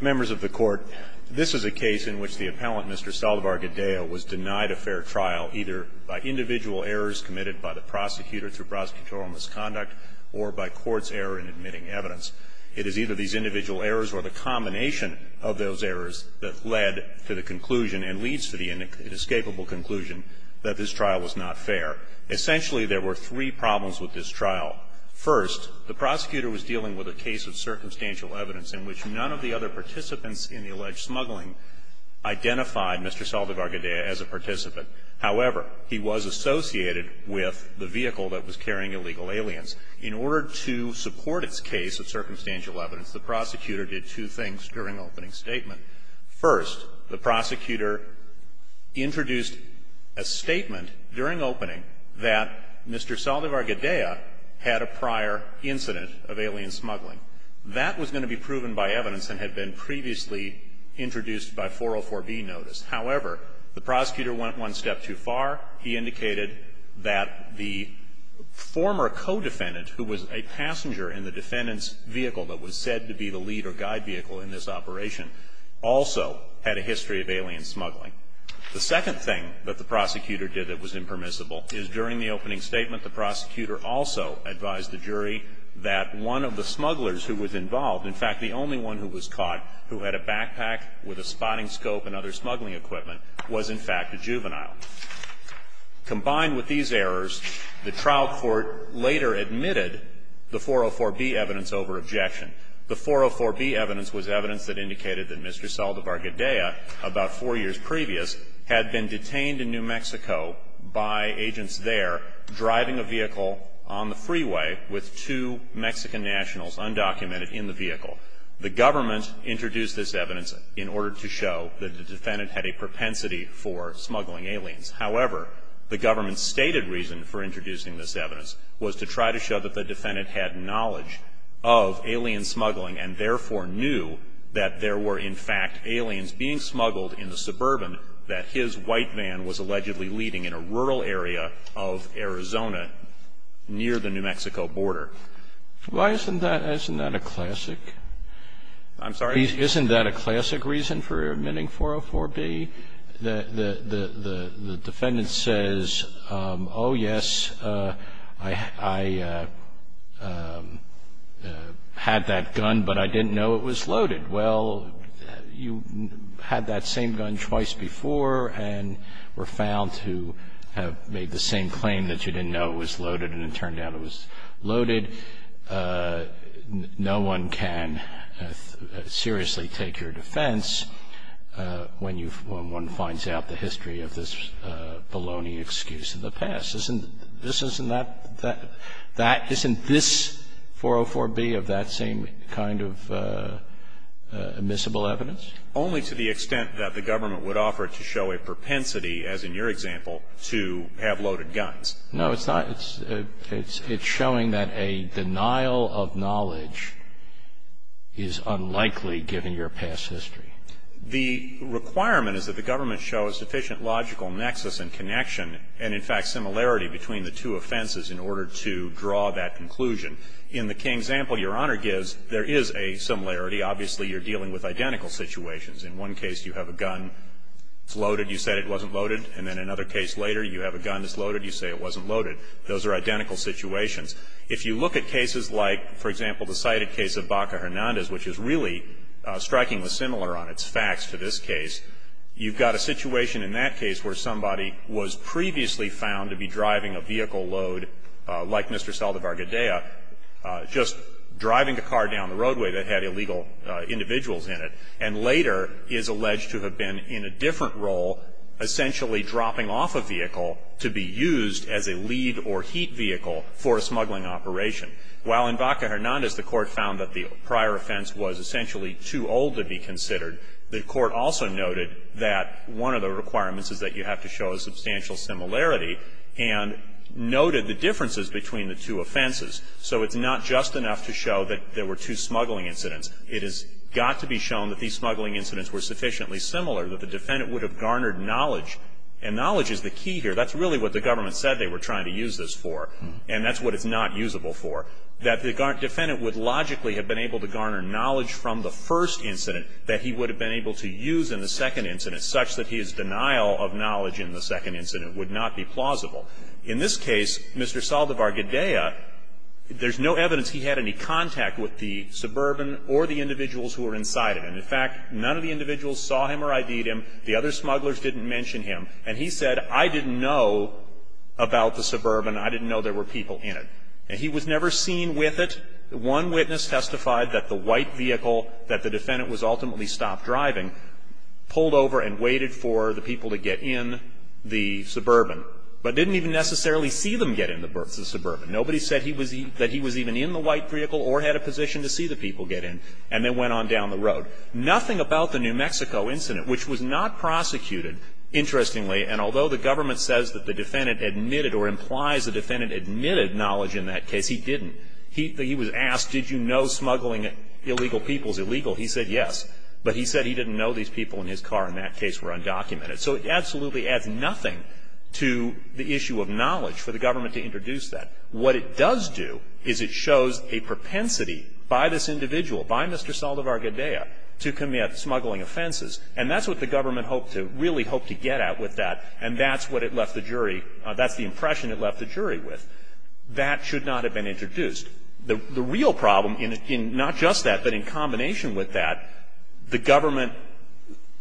Members of the Court, this is a case in which the appellant, Mr. Saldivar-Gadea, was denied a fair trial either by individual errors committed by the prosecutor through prosecutorial misconduct or by court's error in admitting evidence. It is either these individual errors or the combination of those errors that led to the conclusion and leads to the inescapable conclusion that this trial was not fair. Essentially, there were three problems with this trial. First, the prosecutor was dealing with a case of circumstantial evidence in which none of the other participants in the alleged smuggling identified Mr. Saldivar-Gadea as a participant. However, he was associated with the vehicle that was carrying illegal aliens. In order to support its case of circumstantial evidence, the prosecutor did two things during opening statement. First, the prosecutor introduced a statement during opening that Mr. Saldivar-Gadea had a prior incident of alien smuggling. That was going to be proven by evidence and had been previously introduced by 404B notice. However, the prosecutor went one step too far. He indicated that the former co-defendant, who was a passenger in the defendant's vehicle that was said to be the lead or guide vehicle in this operation, also had a history of alien smuggling. The second thing that the prosecutor did that was impermissible is during the opening statement, the prosecutor also advised the jury that one of the smugglers who was involved, in fact, the only one who was caught who had a backpack with a spotting scope and other smuggling equipment, was in fact a juvenile. Combined with these errors, the trial court later admitted the 404B evidence over objection. The 404B evidence was evidence that indicated that Mr. Saldivar-Gadea, about four years previous, had been detained in New Mexico by agents there driving a vehicle on the freeway with two Mexican nationals undocumented in the vehicle. The government introduced this evidence in order to show that the defendant had a propensity for smuggling aliens. However, the government's stated reason for introducing this evidence was to try to show that the defendant had knowledge of alien smuggling and therefore knew that there were, in fact, aliens being smuggled in the suburban that his white van was allegedly leaving in a rural area of Arizona near the New Mexico border. Why isn't that a classic? I'm sorry? Isn't that a classic reason for admitting 404B? The defendant says, oh, yes, I had that gun, but I didn't know it was loaded. Well, you had that same gun twice before and were found to have made the same claim that you didn't know it was loaded, and it turned out it was loaded. No one can seriously take your defense when you've – when one finds out the history of this baloney excuse of the past. Isn't this 404B of that same kind of admissible evidence? Only to the extent that the government would offer to show a propensity, as in your example, to have loaded guns. No, it's not. It's showing that a denial of knowledge is unlikely, given your past history. The requirement is that the government show a sufficient logical nexus and connection and, in fact, similarity between the two offenses in order to draw that conclusion. In the King example Your Honor gives, there is a similarity. Obviously, you're dealing with identical situations. In one case, you have a gun. It's loaded. You said it wasn't loaded. And then another case later, you have a gun that's loaded. You say it wasn't loaded. Those are identical situations. If you look at cases like, for example, the cited case of Baca-Hernandez, which is really strikingly similar on its facts to this case, you've got a situation in that case where somebody was previously found to be driving a vehicle load, like Mr. Saldivar-Gadea, just driving a car down the roadway that had illegal individuals in it, and later is alleged to have been in a different role, essentially dropping off a vehicle to be used as a lead or heat vehicle for a smuggling operation. While in Baca-Hernandez the Court found that the prior offense was essentially too old to be considered, the Court also noted that one of the requirements is that you have to show a substantial similarity and noted the differences between the two offenses. So it's not just enough to show that there were two smuggling incidents. It has got to be shown that these smuggling incidents were sufficiently similar, that the defendant would have garnered knowledge. And knowledge is the key here. That's really what the government said they were trying to use this for. And that's what it's not usable for. That the defendant would logically have been able to garner knowledge from the first incident that he would have been able to use in the second incident, such that his denial of knowledge in the second incident would not be plausible. In this case, Mr. Saldivar-Gadea, there's no evidence he had any contact with the suburban or the individuals who were inside it. And, in fact, none of the individuals saw him or ID'd him. The other smugglers didn't mention him. And he said, I didn't know about the suburban. I didn't know there were people in it. And he was never seen with it. One witness testified that the white vehicle that the defendant was ultimately stopped driving, pulled over and waited for the people to get in the suburban, but didn't even necessarily see them get in the suburban. Nobody said he was even in the white vehicle or had a position to see the people get in. And they went on down the road. Nothing about the New Mexico incident, which was not prosecuted, interestingly, and although the government says that the defendant admitted or implies the defendant admitted knowledge in that case, he didn't. He was asked, did you know smuggling illegal people is illegal? He said yes. But he said he didn't know these people in his car in that case were undocumented. So it absolutely adds nothing to the issue of knowledge for the government to introduce that. What it does do is it shows a propensity by this individual, by Mr. Saldivar-Gadea, to commit smuggling offenses. And that's what the government hoped to, really hoped to get at with that. And that's what it left the jury, that's the impression it left the jury with. That should not have been introduced. The real problem in not just that, but in combination with that, the government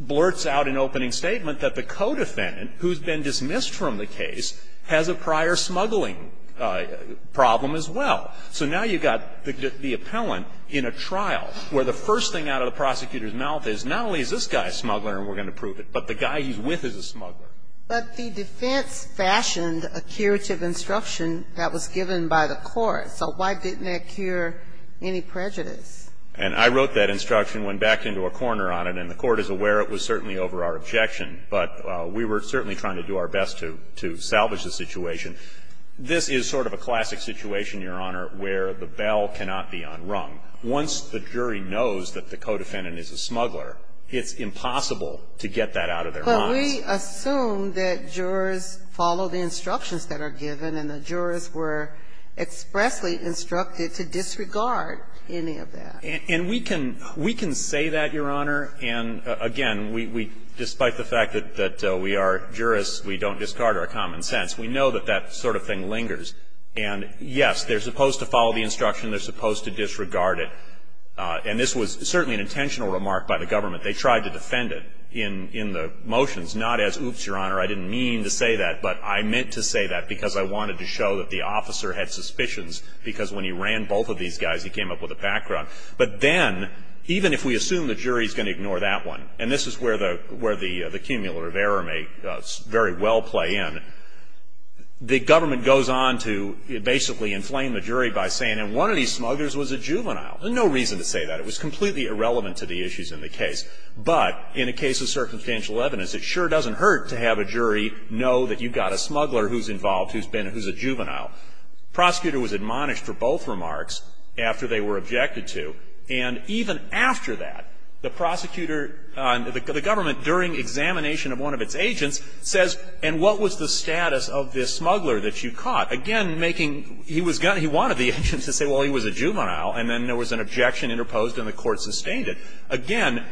blurts out an opening statement that the co-defendant, who has been dismissed from the case, has a prior smuggling problem as well. So now you've got the appellant in a trial where the first thing out of the prosecutor's mouth is not only is this guy a smuggler and we're going to prove it, but the guy he's with is a smuggler. But the defense fashioned a curative instruction that was given by the court. So why didn't that cure any prejudice? And I wrote that instruction, went back into a corner on it, and the Court is aware it was certainly over our objection. But we were certainly trying to do our best to salvage the situation. This is sort of a classic situation, Your Honor, where the bell cannot be unrung. Once the jury knows that the co-defendant is a smuggler, it's impossible to get that out of their minds. We assume that jurors follow the instructions that are given and the jurors were expressly instructed to disregard any of that. And we can say that, Your Honor. And, again, despite the fact that we are jurors, we don't discard our common sense. We know that that sort of thing lingers. And, yes, they're supposed to follow the instruction. They're supposed to disregard it. And this was certainly an intentional remark by the government. They tried to defend it in the motions, not as, oops, Your Honor, I didn't mean to say that, but I meant to say that because I wanted to show that the officer had suspicions because when he ran both of these guys, he came up with a background. But then, even if we assume the jury is going to ignore that one, and this is where the cumulative error may very well play in, the government goes on to basically inflame the jury by saying, and one of these smugglers was a juvenile. There's no reason to say that. It was completely irrelevant to the issues in the case. But in a case of circumstantial evidence, it sure doesn't hurt to have a jury know that you've got a smuggler who's involved, who's been, who's a juvenile. Prosecutor was admonished for both remarks after they were objected to. And even after that, the prosecutor, the government, during examination of one of its agents, says, and what was the status of this smuggler that you caught? Again, making, he was going to, he wanted the agent to say, well, he was a juvenile, and then there was an objection interposed and the court sustained it. Again,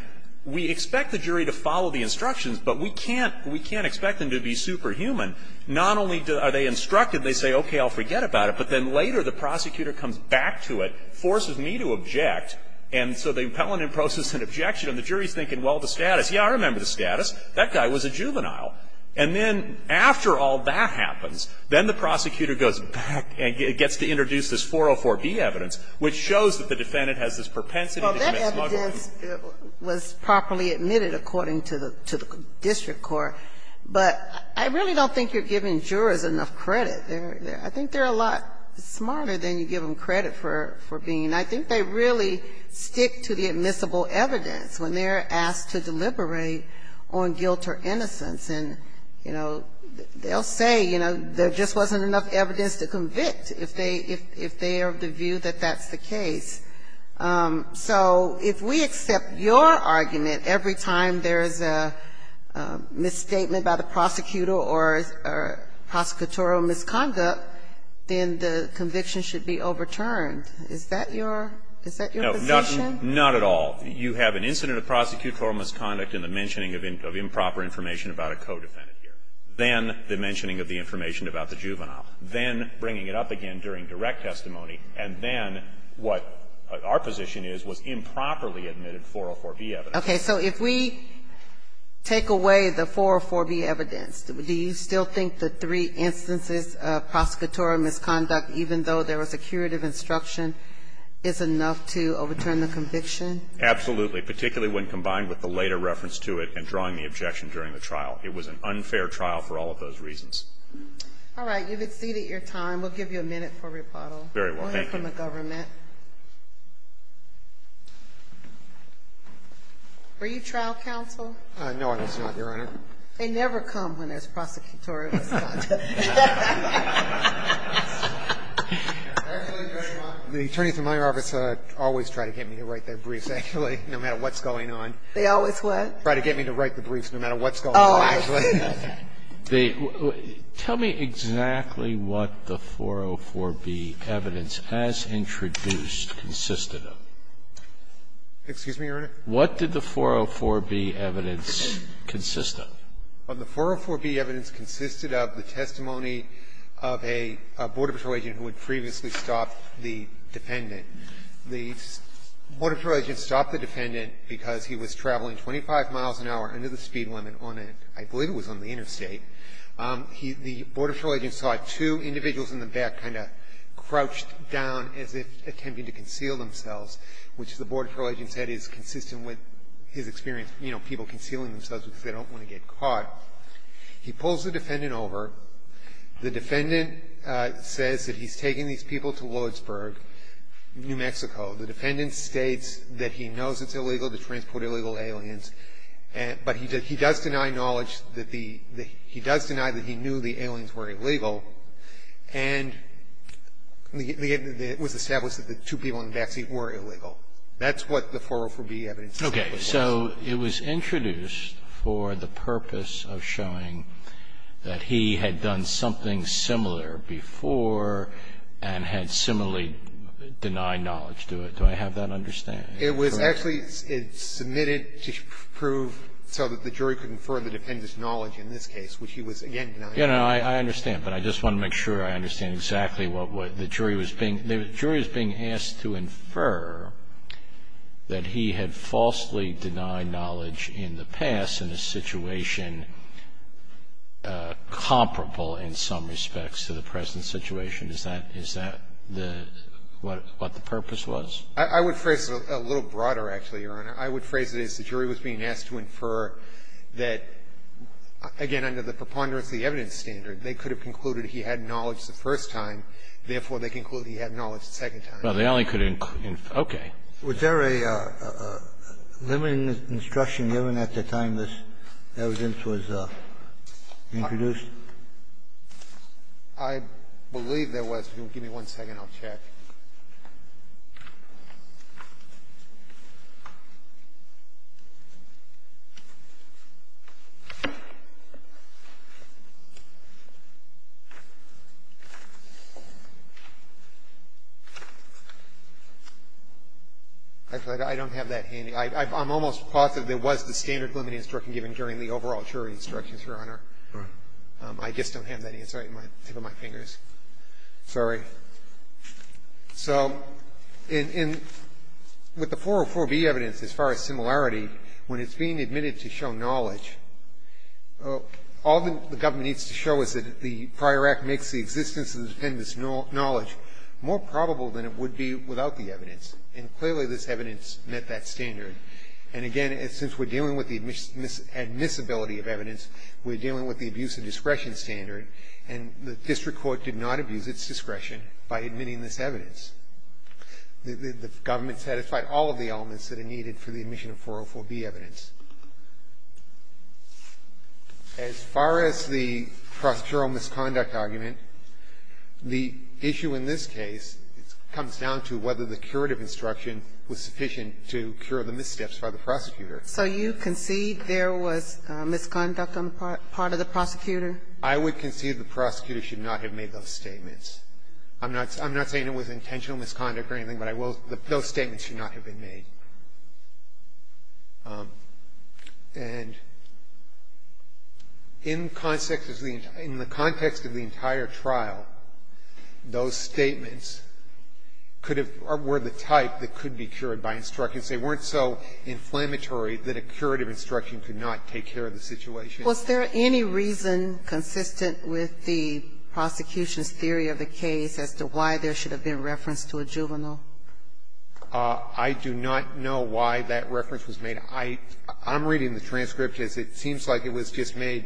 we expect the jury to follow the instructions, but we can't, we can't expect them to be superhuman. Not only are they instructed, they say, okay, I'll forget about it, but then later the prosecutor comes back to it, forces me to object, and so they impel an interposed objection, and the jury is thinking, well, the status. Yeah, I remember the status. That guy was a juvenile. And then after all that happens, then the prosecutor goes back and gets to introduce this 404B evidence, which shows that the defendant has this propensity to dismiss evidence that was properly admitted according to the district court. But I really don't think you're giving jurors enough credit. I think they're a lot smarter than you give them credit for being. I think they really stick to the admissible evidence when they're asked to deliberate on guilt or innocence. And, you know, they'll say, you know, there just wasn't enough evidence to convict if they are of the view that that's the case. So if we accept your argument every time there is a misstatement by the prosecutor or prosecutorial misconduct, then the conviction should be overturned. Is that your position? No, not at all. You have an incident of prosecutorial misconduct and the mentioning of improper information about a co-defendant here. Then the mentioning of the information about the juvenile. Then bringing it up again during direct testimony. And then what our position is was improperly admitted 404B evidence. Okay. So if we take away the 404B evidence, do you still think the three instances of prosecutorial misconduct, even though there was a curative instruction, is enough to overturn the conviction? Absolutely. Particularly when combined with the later reference to it and drawing the objection during the trial. It was an unfair trial for all of those reasons. All right. You've exceeded your time. We'll give you a minute for rebuttal. Very well. Thank you. We'll hear from the government. Were you trial counsel? No, I was not, Your Honor. They never come when there's prosecutorial misconduct. The attorneys in my office always try to get me to write their briefs, actually, no matter what's going on. They always what? Try to get me to write the briefs no matter what's going on. Oh, okay. Tell me exactly what the 404B evidence as introduced consisted of. Excuse me, Your Honor? What did the 404B evidence consist of? Well, the 404B evidence consisted of the testimony of a border patrol agent who had previously stopped the defendant. The border patrol agent stopped the defendant because he was traveling 25 miles an hour under the speed limit on an end. The border patrol agent saw two individuals in the back kind of crouched down as if attempting to conceal themselves, which the border patrol agent said is consistent with his experience, you know, people concealing themselves because they don't want to get caught. He pulls the defendant over. The defendant says that he's taking these people to Williamsburg, New Mexico. The defendant states that he knows it's illegal to transport illegal aliens, but he does deny knowledge that the he does deny that he knew the aliens were illegal, and it was established that the two people in the back seat were illegal. That's what the 404B evidence was. Okay. So it was introduced for the purpose of showing that he had done something similar before and had similarly denied knowledge. Do I have that understand? Correct. So it was actually submitted to prove so that the jury could infer the defendant's knowledge in this case, which he was, again, denying knowledge. Yes, I understand, but I just want to make sure I understand exactly what the jury was being asked to infer, that he had falsely denied knowledge in the past in a situation comparable in some respects to the present situation. Is that what the purpose was? I would phrase it a little broader, actually, Your Honor. I would phrase it as the jury was being asked to infer that, again, under the preponderance of the evidence standard, they could have concluded he had knowledge the first time, therefore, they concluded he had knowledge the second time. Well, they only could have inferred. Okay. Was there a limiting instruction given at the time this evidence was introduced? I believe there was. Give me one second. I'll check. Actually, I don't have that handy. I'm almost positive there was the standard limiting instruction given during the overall jury instructions, Your Honor. All right. I just don't have that handy. It's right at the tip of my fingers. Sorry. So with the 404b evidence, as far as similarity, when it's being admitted to show knowledge, all the government needs to show is that the prior act makes the existence of the defendant's knowledge more probable than it would be without the evidence. And clearly, this evidence met that standard. And again, since we're dealing with the admissibility of evidence, we're dealing with the abuse of discretion standard, and the district court did not abuse its discretion by admitting this evidence. The government satisfied all of the elements that are needed for the admission of 404b evidence. As far as the prosecutorial misconduct argument, the issue in this case comes down to whether the curative instruction was sufficient to cure the missteps by the prosecutor. So you concede there was misconduct on the part of the prosecutor? I would concede the prosecutor should not have made those statements. I'm not saying it was intentional misconduct or anything, but I will say those statements should not have been made. And in the context of the entire trial, those statements could have been the type that could be cured by instructions. They weren't so inflammatory that a curative instruction could not take care of the situation. Was there any reason consistent with the prosecution's theory of the case as to why there should have been reference to a juvenile? I do not know why that reference was made. I'm reading the transcript as it seems like it was just made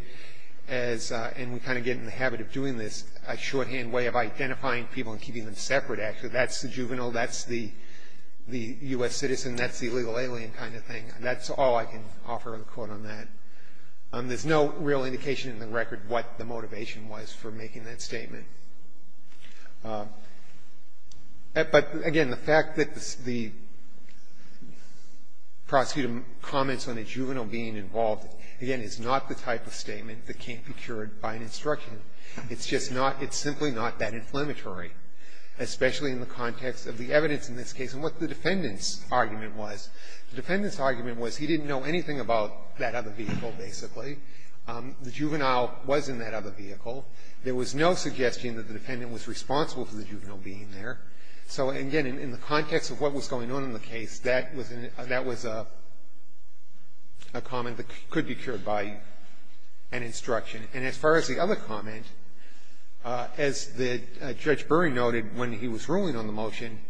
as, and we kind of get in the habit of doing this, a shorthand way of identifying people and keeping them separate. Actually, that's the juvenile, that's the U.S. citizen, that's the illegal alien kind of thing. That's all I can offer in a quote on that. There's no real indication in the record what the motivation was for making that statement. But, again, the fact that the prosecutor comments on a juvenile being involved, again, is not the type of statement that can't be cured by an instruction. It's just not, it's simply not that inflammatory, especially in the context of the evidence in this case and what the defendant's argument was. The defendant's argument was he didn't know anything about that other vehicle, basically. The juvenile was in that other vehicle. There was no suggestion that the defendant was responsible for the juvenile being there. So, again, in the context of what was going on in the case, that was a comment that could be cured by an instruction. And as far as the other comment, as Judge Burry noted when he was ruling on the motion,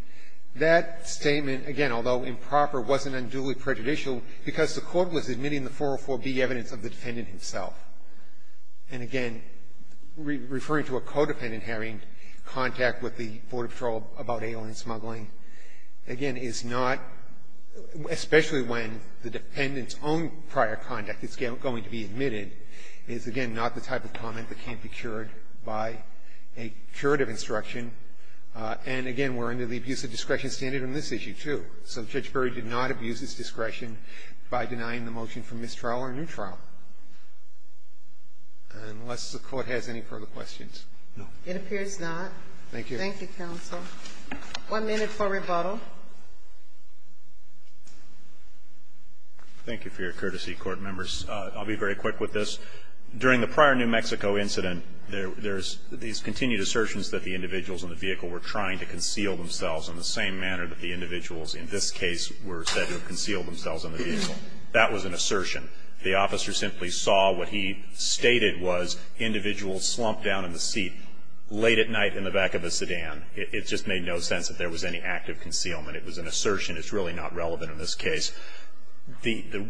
that statement, again, although improper, wasn't unduly prejudicial because the court was admitting the 404B evidence of the defendant himself. And, again, referring to a codependent having contact with the Border Patrol about alien smuggling, again, is not, especially when the defendant's own prior conduct is going to be admitted, is, again, not the type of comment that can't be cured by a curative instruction. And, again, we're under the abuse of discretion standard on this issue, too. So Judge Burry did not abuse his discretion by denying the motion for mistrial or a new trial. Unless the Court has any further questions. No. It appears not. Thank you. Thank you, counsel. One minute for rebuttal. Thank you for your courtesy, court members. I'll be very quick with this. During the prior New Mexico incident, there's these continued assertions that the individuals in the vehicle were trying to conceal themselves in the same manner that the individuals in this case were said to have concealed themselves in the vehicle. That was an assertion. The officer simply saw what he stated was individuals slumped down in the seat late at night in the back of a sedan. It just made no sense that there was any active concealment. It was an assertion. It's really not relevant in this case.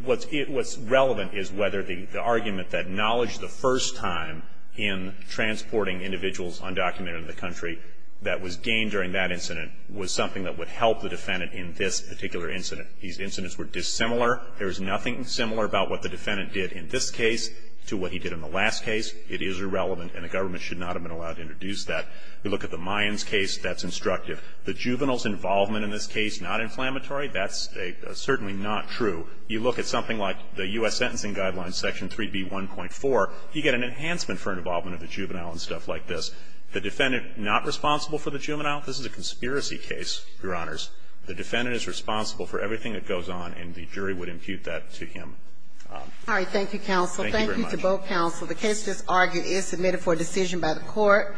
What's relevant is whether the argument that knowledge the first time in transporting individuals undocumented in the country that was gained during that incident was something that would help the defendant in this particular incident. These incidents were dissimilar. There is nothing similar about what the defendant did in this case to what he did in the last case. It is irrelevant, and the government should not have been allowed to introduce that. We look at the Mayans case. That's instructive. The juvenile's involvement in this case, not inflammatory, that's certainly not true. You look at something like the U.S. Sentencing Guidelines, Section 3B1.4, you get an enhancement for an involvement of the juvenile and stuff like this. The defendant not responsible for the juvenile, this is a conspiracy case, Your Honors. The defendant is responsible for everything that goes on, and the jury would impute that to him. All right. Thank you, counsel. Thank you to both counsel. The case that's argued is submitted for decision by the court.